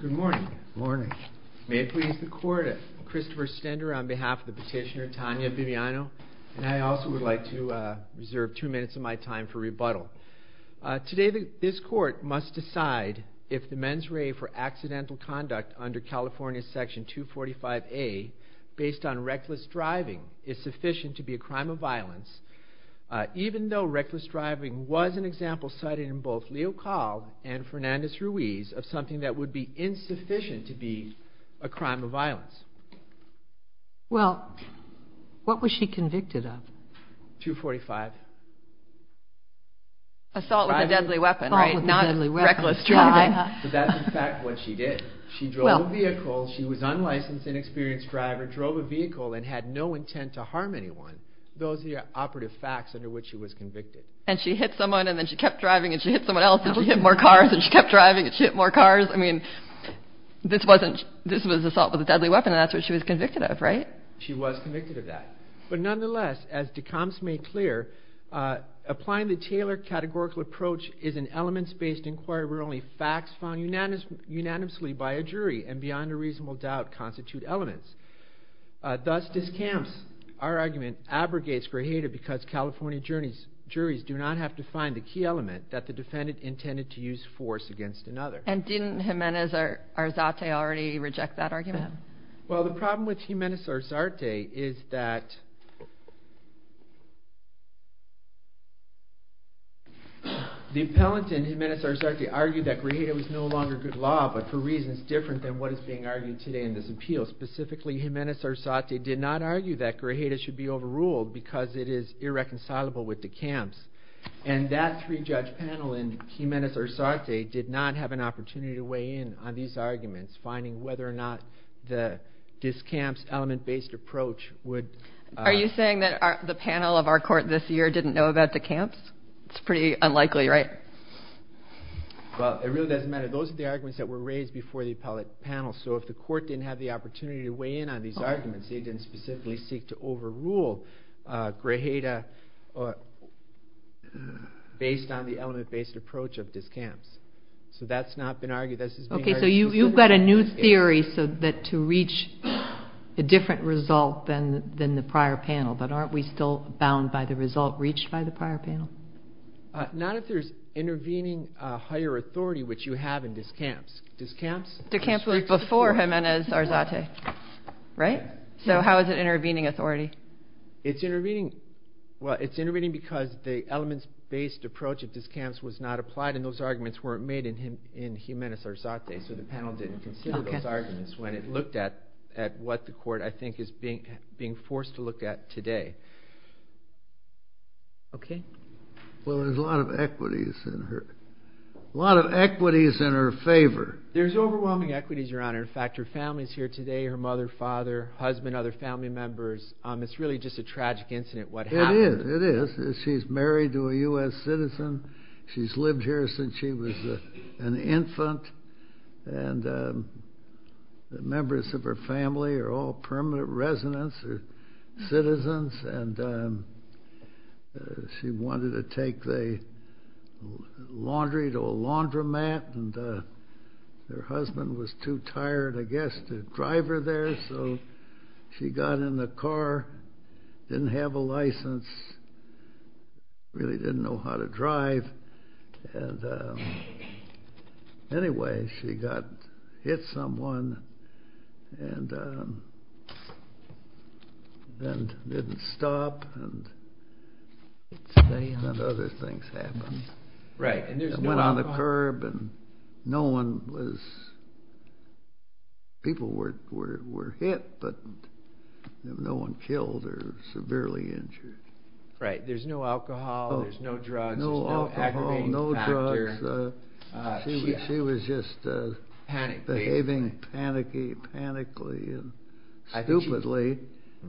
Good morning. Good morning. May it please the court, Christopher Stender on behalf of the petitioner Tania Bibiano, and I also would like to reserve two minutes of my time for rebuttal. Today this court must decide if the mens rea for accidental conduct under California section 245A based on reckless driving is sufficient to be a crime of violence. Even though reckless driving was an example cited in both Leo Kahl and Fernandez-Ramirez's Ruiz of something that would be insufficient to be a crime of violence. Well, what was she convicted of? 245. Assault with a deadly weapon, right? Not reckless driving. But that's in fact what she did. She drove a vehicle, she was unlicensed, inexperienced driver, drove a vehicle and had no intent to harm anyone. Those are the operative facts under which she was convicted. And she hit someone, and then she kept driving, and she hit someone else, and she hit more cars, and she kept driving, and she hit more cars. I mean, this was assault with a deadly weapon, and that's what she was convicted of, right? She was convicted of that. But nonetheless, as Decombs made clear, applying the Taylor categorical approach is an elements-based inquiry where only facts found unanimously by a jury and beyond a reasonable doubt constitute elements. Thus, Decombs, our argument, abrogates Grajeda because California juries do not have to find the key element that the defendant intended to use force against another. And didn't Jimenez-Arzate already reject that argument? Well, the problem with Jimenez-Arzate is that the appellant in Jimenez-Arzate argued that Grajeda was no longer good law, but for reasons different than what is being argued today in this appeal. Specifically, Jimenez-Arzate did not argue that Grajeda should be overruled because it is irreconcilable with Decombs. And that three-judge panel in Jimenez-Arzate did not have an opportunity to weigh in on these arguments, finding whether or not the Decombs element-based approach would… Are you saying that the panel of our court this year didn't know about Decombs? It's pretty unlikely, right? Well, it really doesn't matter. Those are the arguments that were raised before the appellate panel, so if the court didn't have the opportunity to weigh in on these arguments, they didn't specifically seek to overrule Grajeda based on the element-based approach of Decombs. So that's not been argued. Okay, so you've got a new theory to reach a different result than the prior panel, but aren't we still bound by the result reached by the prior panel? Not if there's intervening higher authority, which you have in Decombs. Decombs was before Jimenez-Arzate, right? So how is it intervening authority? It's intervening because the element-based approach of Decombs was not applied and those arguments weren't made in Jimenez-Arzate, so the panel didn't consider those arguments when it looked at what the court, I think, is being forced to look at today. Okay? Well, there's a lot of equities in her favor. There's overwhelming equities, Your Honor. In fact, her family's here today, her mother, father, husband, other family members. It's really just a tragic incident, what happened. It is, it is. She's married to a U.S. citizen. She's lived here since she was an infant, and the members of her family are all permanent residents or citizens, and she wanted to take the laundry to a laundromat, and her husband was too tired, I guess, to drive her there. So she got in the car, didn't have a license, really didn't know how to drive, and anyway, she got, hit someone, and then didn't stop, and then other things happened. Right. Went on the curb, and no one was, people were hit, but no one killed or severely injured. Right, there's no alcohol, there's no drugs, there's no aggravating factor. No alcohol, no drugs. She was just behaving panicky, panically, and stupidly.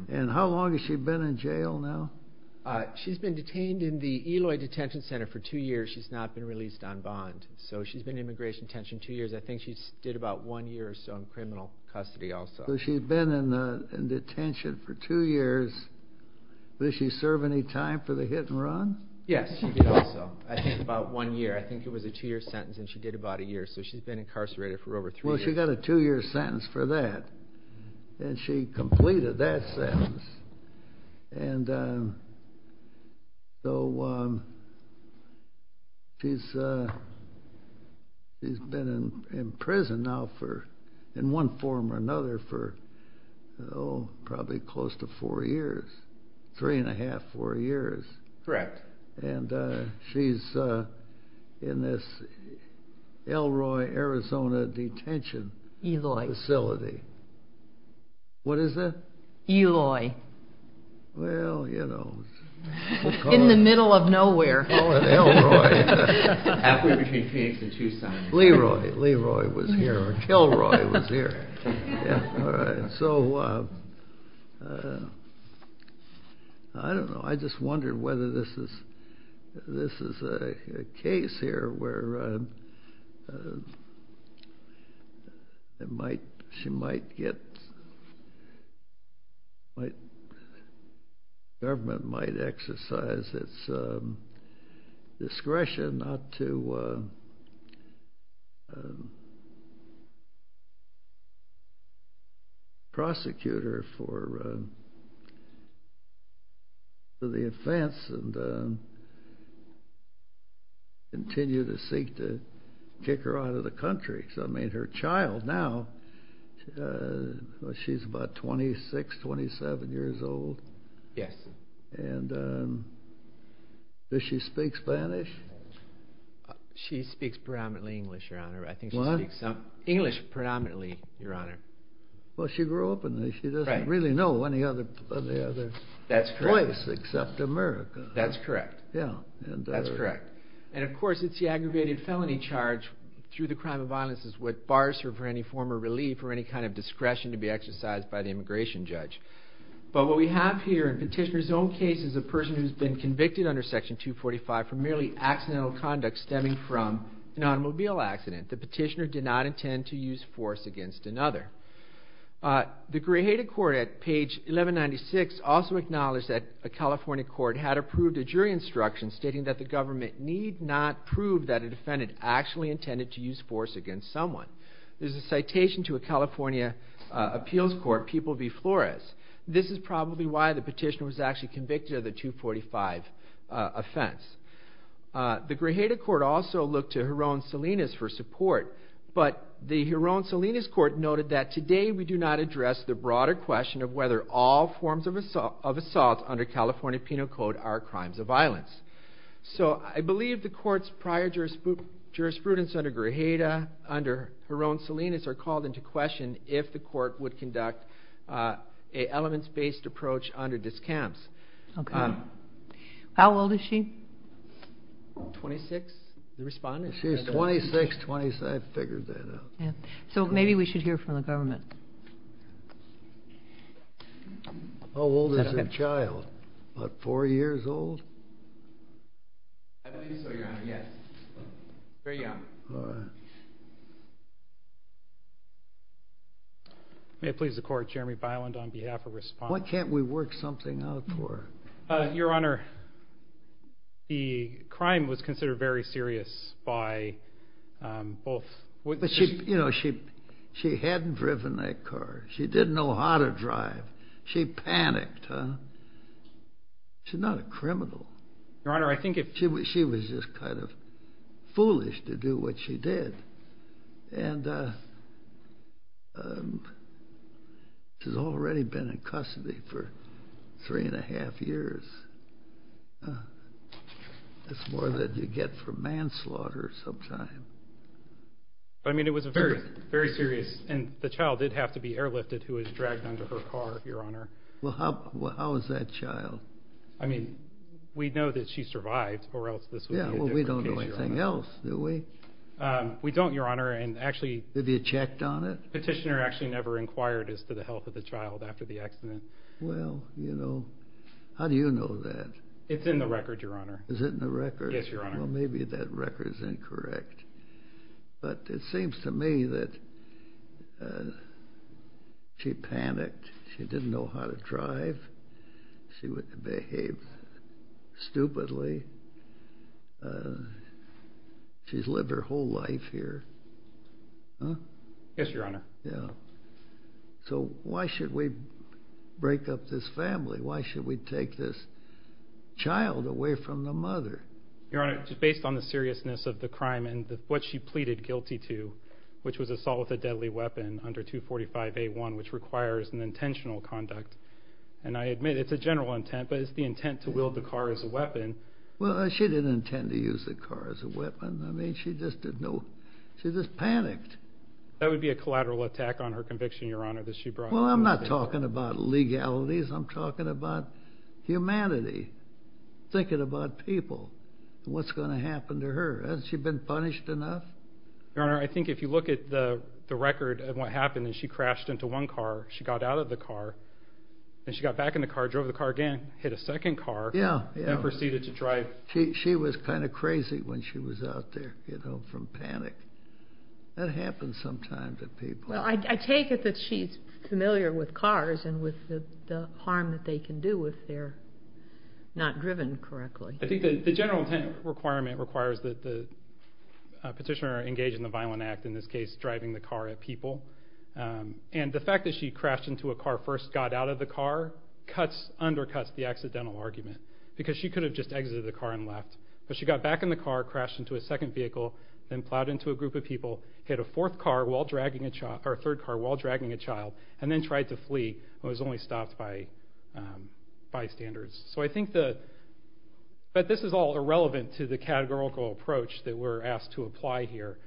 And how long has she been in jail now? She's been detained in the Eloy Detention Center for two years. She's not been released on bond. So she's been in immigration detention two years. I think she did about one year or so in criminal custody also. So she's been in detention for two years. Did she serve any time for the hit and run? Yes, she did also. I think about one year. I think it was a two-year sentence, and she did about a year. So she's been incarcerated for over three years. Well, she got a two-year sentence for that, and she completed that sentence. And so she's been in prison now for, in one form or another, for probably close to four years, three and a half, four years. Correct. And she's in this Elroy, Arizona Detention Facility. Eloy. What is that? Eloy. Well, you know. In the middle of nowhere. Elroy. Halfway between Phoenix and Tucson. Leroy. Leroy was here, or Kilroy was here. All right. So I don't know. I just wondered whether this is a case here where she might get, the government might exercise its discretion not to prosecute her for the offense and continue to seek to kick her out of the country. Because, I mean, her child now, she's about 26, 27 years old. Yes. And does she speak Spanish? She speaks predominantly English, Your Honor. What? I think she speaks English predominantly, Your Honor. Well, she grew up in this. She doesn't really know any other place except America. That's correct. Yeah. That's correct. And, of course, it's the aggravated felony charge through the crime of violence is what bars her for any form of relief or any kind of discretion to be exercised by the immigration judge. But what we have here in Petitioner's own case is a person who's been convicted under Section 245 for merely accidental conduct stemming from an automobile accident. The petitioner did not intend to use force against another. The Gray-Hated Court at page 1196 also acknowledged that a California court had approved a jury instruction stating that the government need not prove that a defendant actually intended to use force against someone. There's a citation to a California appeals court, People v. Flores. This is probably why the petitioner was actually convicted of the 245 offense. The Gray-Hated Court also looked to Jeroen Salinas for support, but the Jeroen Salinas Court noted that today we do not address the broader question of whether all forms of assault under California Penal Code are crimes of violence. So I believe the court's prior jurisprudence under Gray-Hated, under Jeroen Salinas, are called into question if the court would conduct an elements-based approach under discounts. Okay. How old is she? Twenty-six, the respondent. She's 26, 27. I figured that out. So maybe we should hear from the government. How old is your child? About four years old? I believe so, Your Honor, yes. Very young. All right. May it please the Court, Jeremy Byland on behalf of Respondent. Why can't we work something out for her? Your Honor, the crime was considered very serious by both witnesses. She hadn't driven that car. She didn't know how to drive. She panicked. She's not a criminal. She was just kind of foolish to do what she did. She's already been in custody for three and a half years. That's more than you get for manslaughter sometimes. But, I mean, it was very serious, and the child did have to be airlifted, who was dragged onto her car, Your Honor. Well, how is that child? I mean, we know that she survived, or else this would be a different case, Your Honor. Yeah, well, we don't know anything else, do we? We don't, Your Honor. Have you checked on it? Well, you know, how do you know that? It's in the record, Your Honor. Is it in the record? Yes, Your Honor. Well, maybe that record is incorrect. But it seems to me that she panicked. She didn't know how to drive. She would behave stupidly. She's lived her whole life here. Yes, Your Honor. So why should we break up this family? Why should we take this child away from the mother? Your Honor, just based on the seriousness of the crime and what she pleaded guilty to, which was assault with a deadly weapon under 245A1, which requires an intentional conduct, and I admit it's a general intent, but it's the intent to wield the car as a weapon. Well, she didn't intend to use the car as a weapon. I mean, she just panicked. That would be a collateral attack on her conviction, Your Honor, that she brought. Well, I'm not talking about legalities. I'm talking about humanity, thinking about people, and what's going to happen to her. Hasn't she been punished enough? Your Honor, I think if you look at the record of what happened, and she crashed into one car, she got out of the car, and she got back in the car, drove the car again, hit a second car, and proceeded to drive. She was kind of crazy when she was out there, you know, from panic. That happens sometimes to people. Well, I take it that she's familiar with cars and with the harm that they can do if they're not driven correctly. I think the general intent requirement requires that the petitioner engage in the violent act, in this case driving the car at people. And the fact that she crashed into a car, first got out of the car, undercuts the accidental argument because she could have just exited the car and left. But she got back in the car, crashed into a second vehicle, then plowed into a group of people, hit a third car while dragging a child, and then tried to flee, and was only stopped by bystanders. So I think that this is all irrelevant to the categorical approach that we're asked to apply here.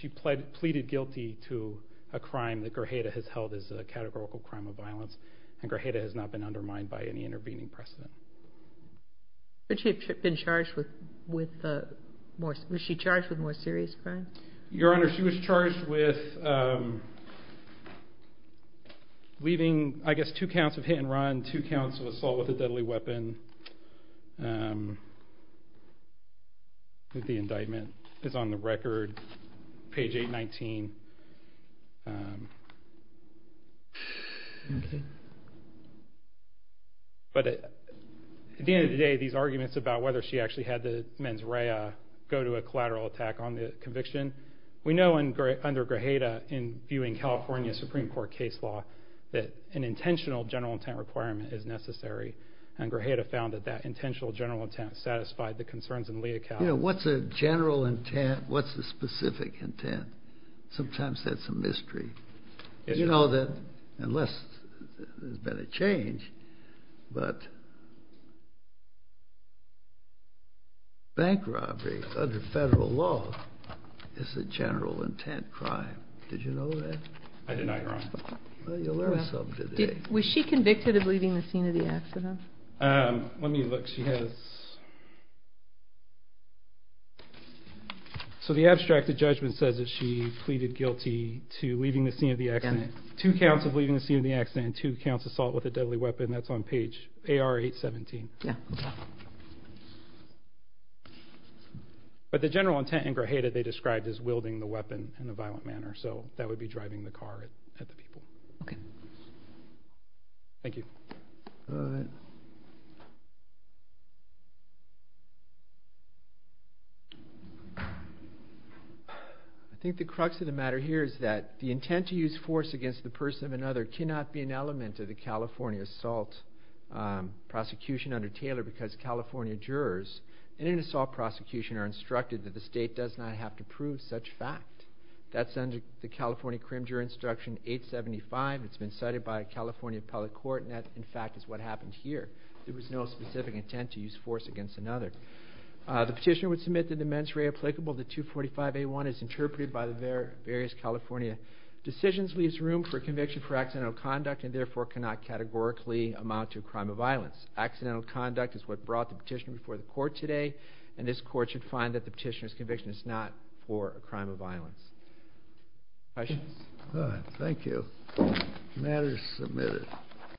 She pleaded guilty to a crime that Grajeda has held as a categorical crime of violence, and Grajeda has not been undermined by any intervening precedent. Would she have been charged with more serious crimes? Your Honor, she was charged with leaving, I guess, two counts of hit and run, two counts of assault with a deadly weapon. The indictment is on the record, page 819. But at the end of the day, these arguments about whether she actually had the mens rea go to a collateral attack on the conviction, we know under Grajeda, in viewing California Supreme Court case law, that an intentional general intent requirement is necessary, and Grajeda found that that intentional general intent satisfied the concerns in Lee et al. You know, what's a general intent, what's the specific intent? Sometimes that's a mystery. You know that, unless there's been a change, but bank robbery under federal law is a general intent crime. Did you know that? I did not, Your Honor. Well, you'll learn something today. Was she convicted of leaving the scene of the accident? Let me look. So the abstract, the judgment says that she pleaded guilty to leaving the scene of the accident, two counts of leaving the scene of the accident and two counts of assault with a deadly weapon. That's on page AR 817. But the general intent in Grajeda, they described as wielding the weapon in a violent manner, so that would be driving the car at the people. Okay. Thank you. I think the crux of the matter here is that the intent to use force against the person of another cannot be an element of the California assault prosecution under Taylor because California jurors in an assault prosecution are instructed that the state does not have to prove such fact. That's under the California Crim Juror Instruction 875. It's been cited by a California appellate court, and that, in fact, is what happened here. There was no specific intent to use force against another. The petitioner would submit the dements re-applicable. The 245A1 is interpreted by the various California decisions, leaves room for conviction for accidental conduct, and therefore cannot categorically amount to a crime of violence. Accidental conduct is what brought the petitioner before the court today, and this court should find that the petitioner's conviction is not for a crime of violence. Questions? All right. Thank you. The matter is submitted.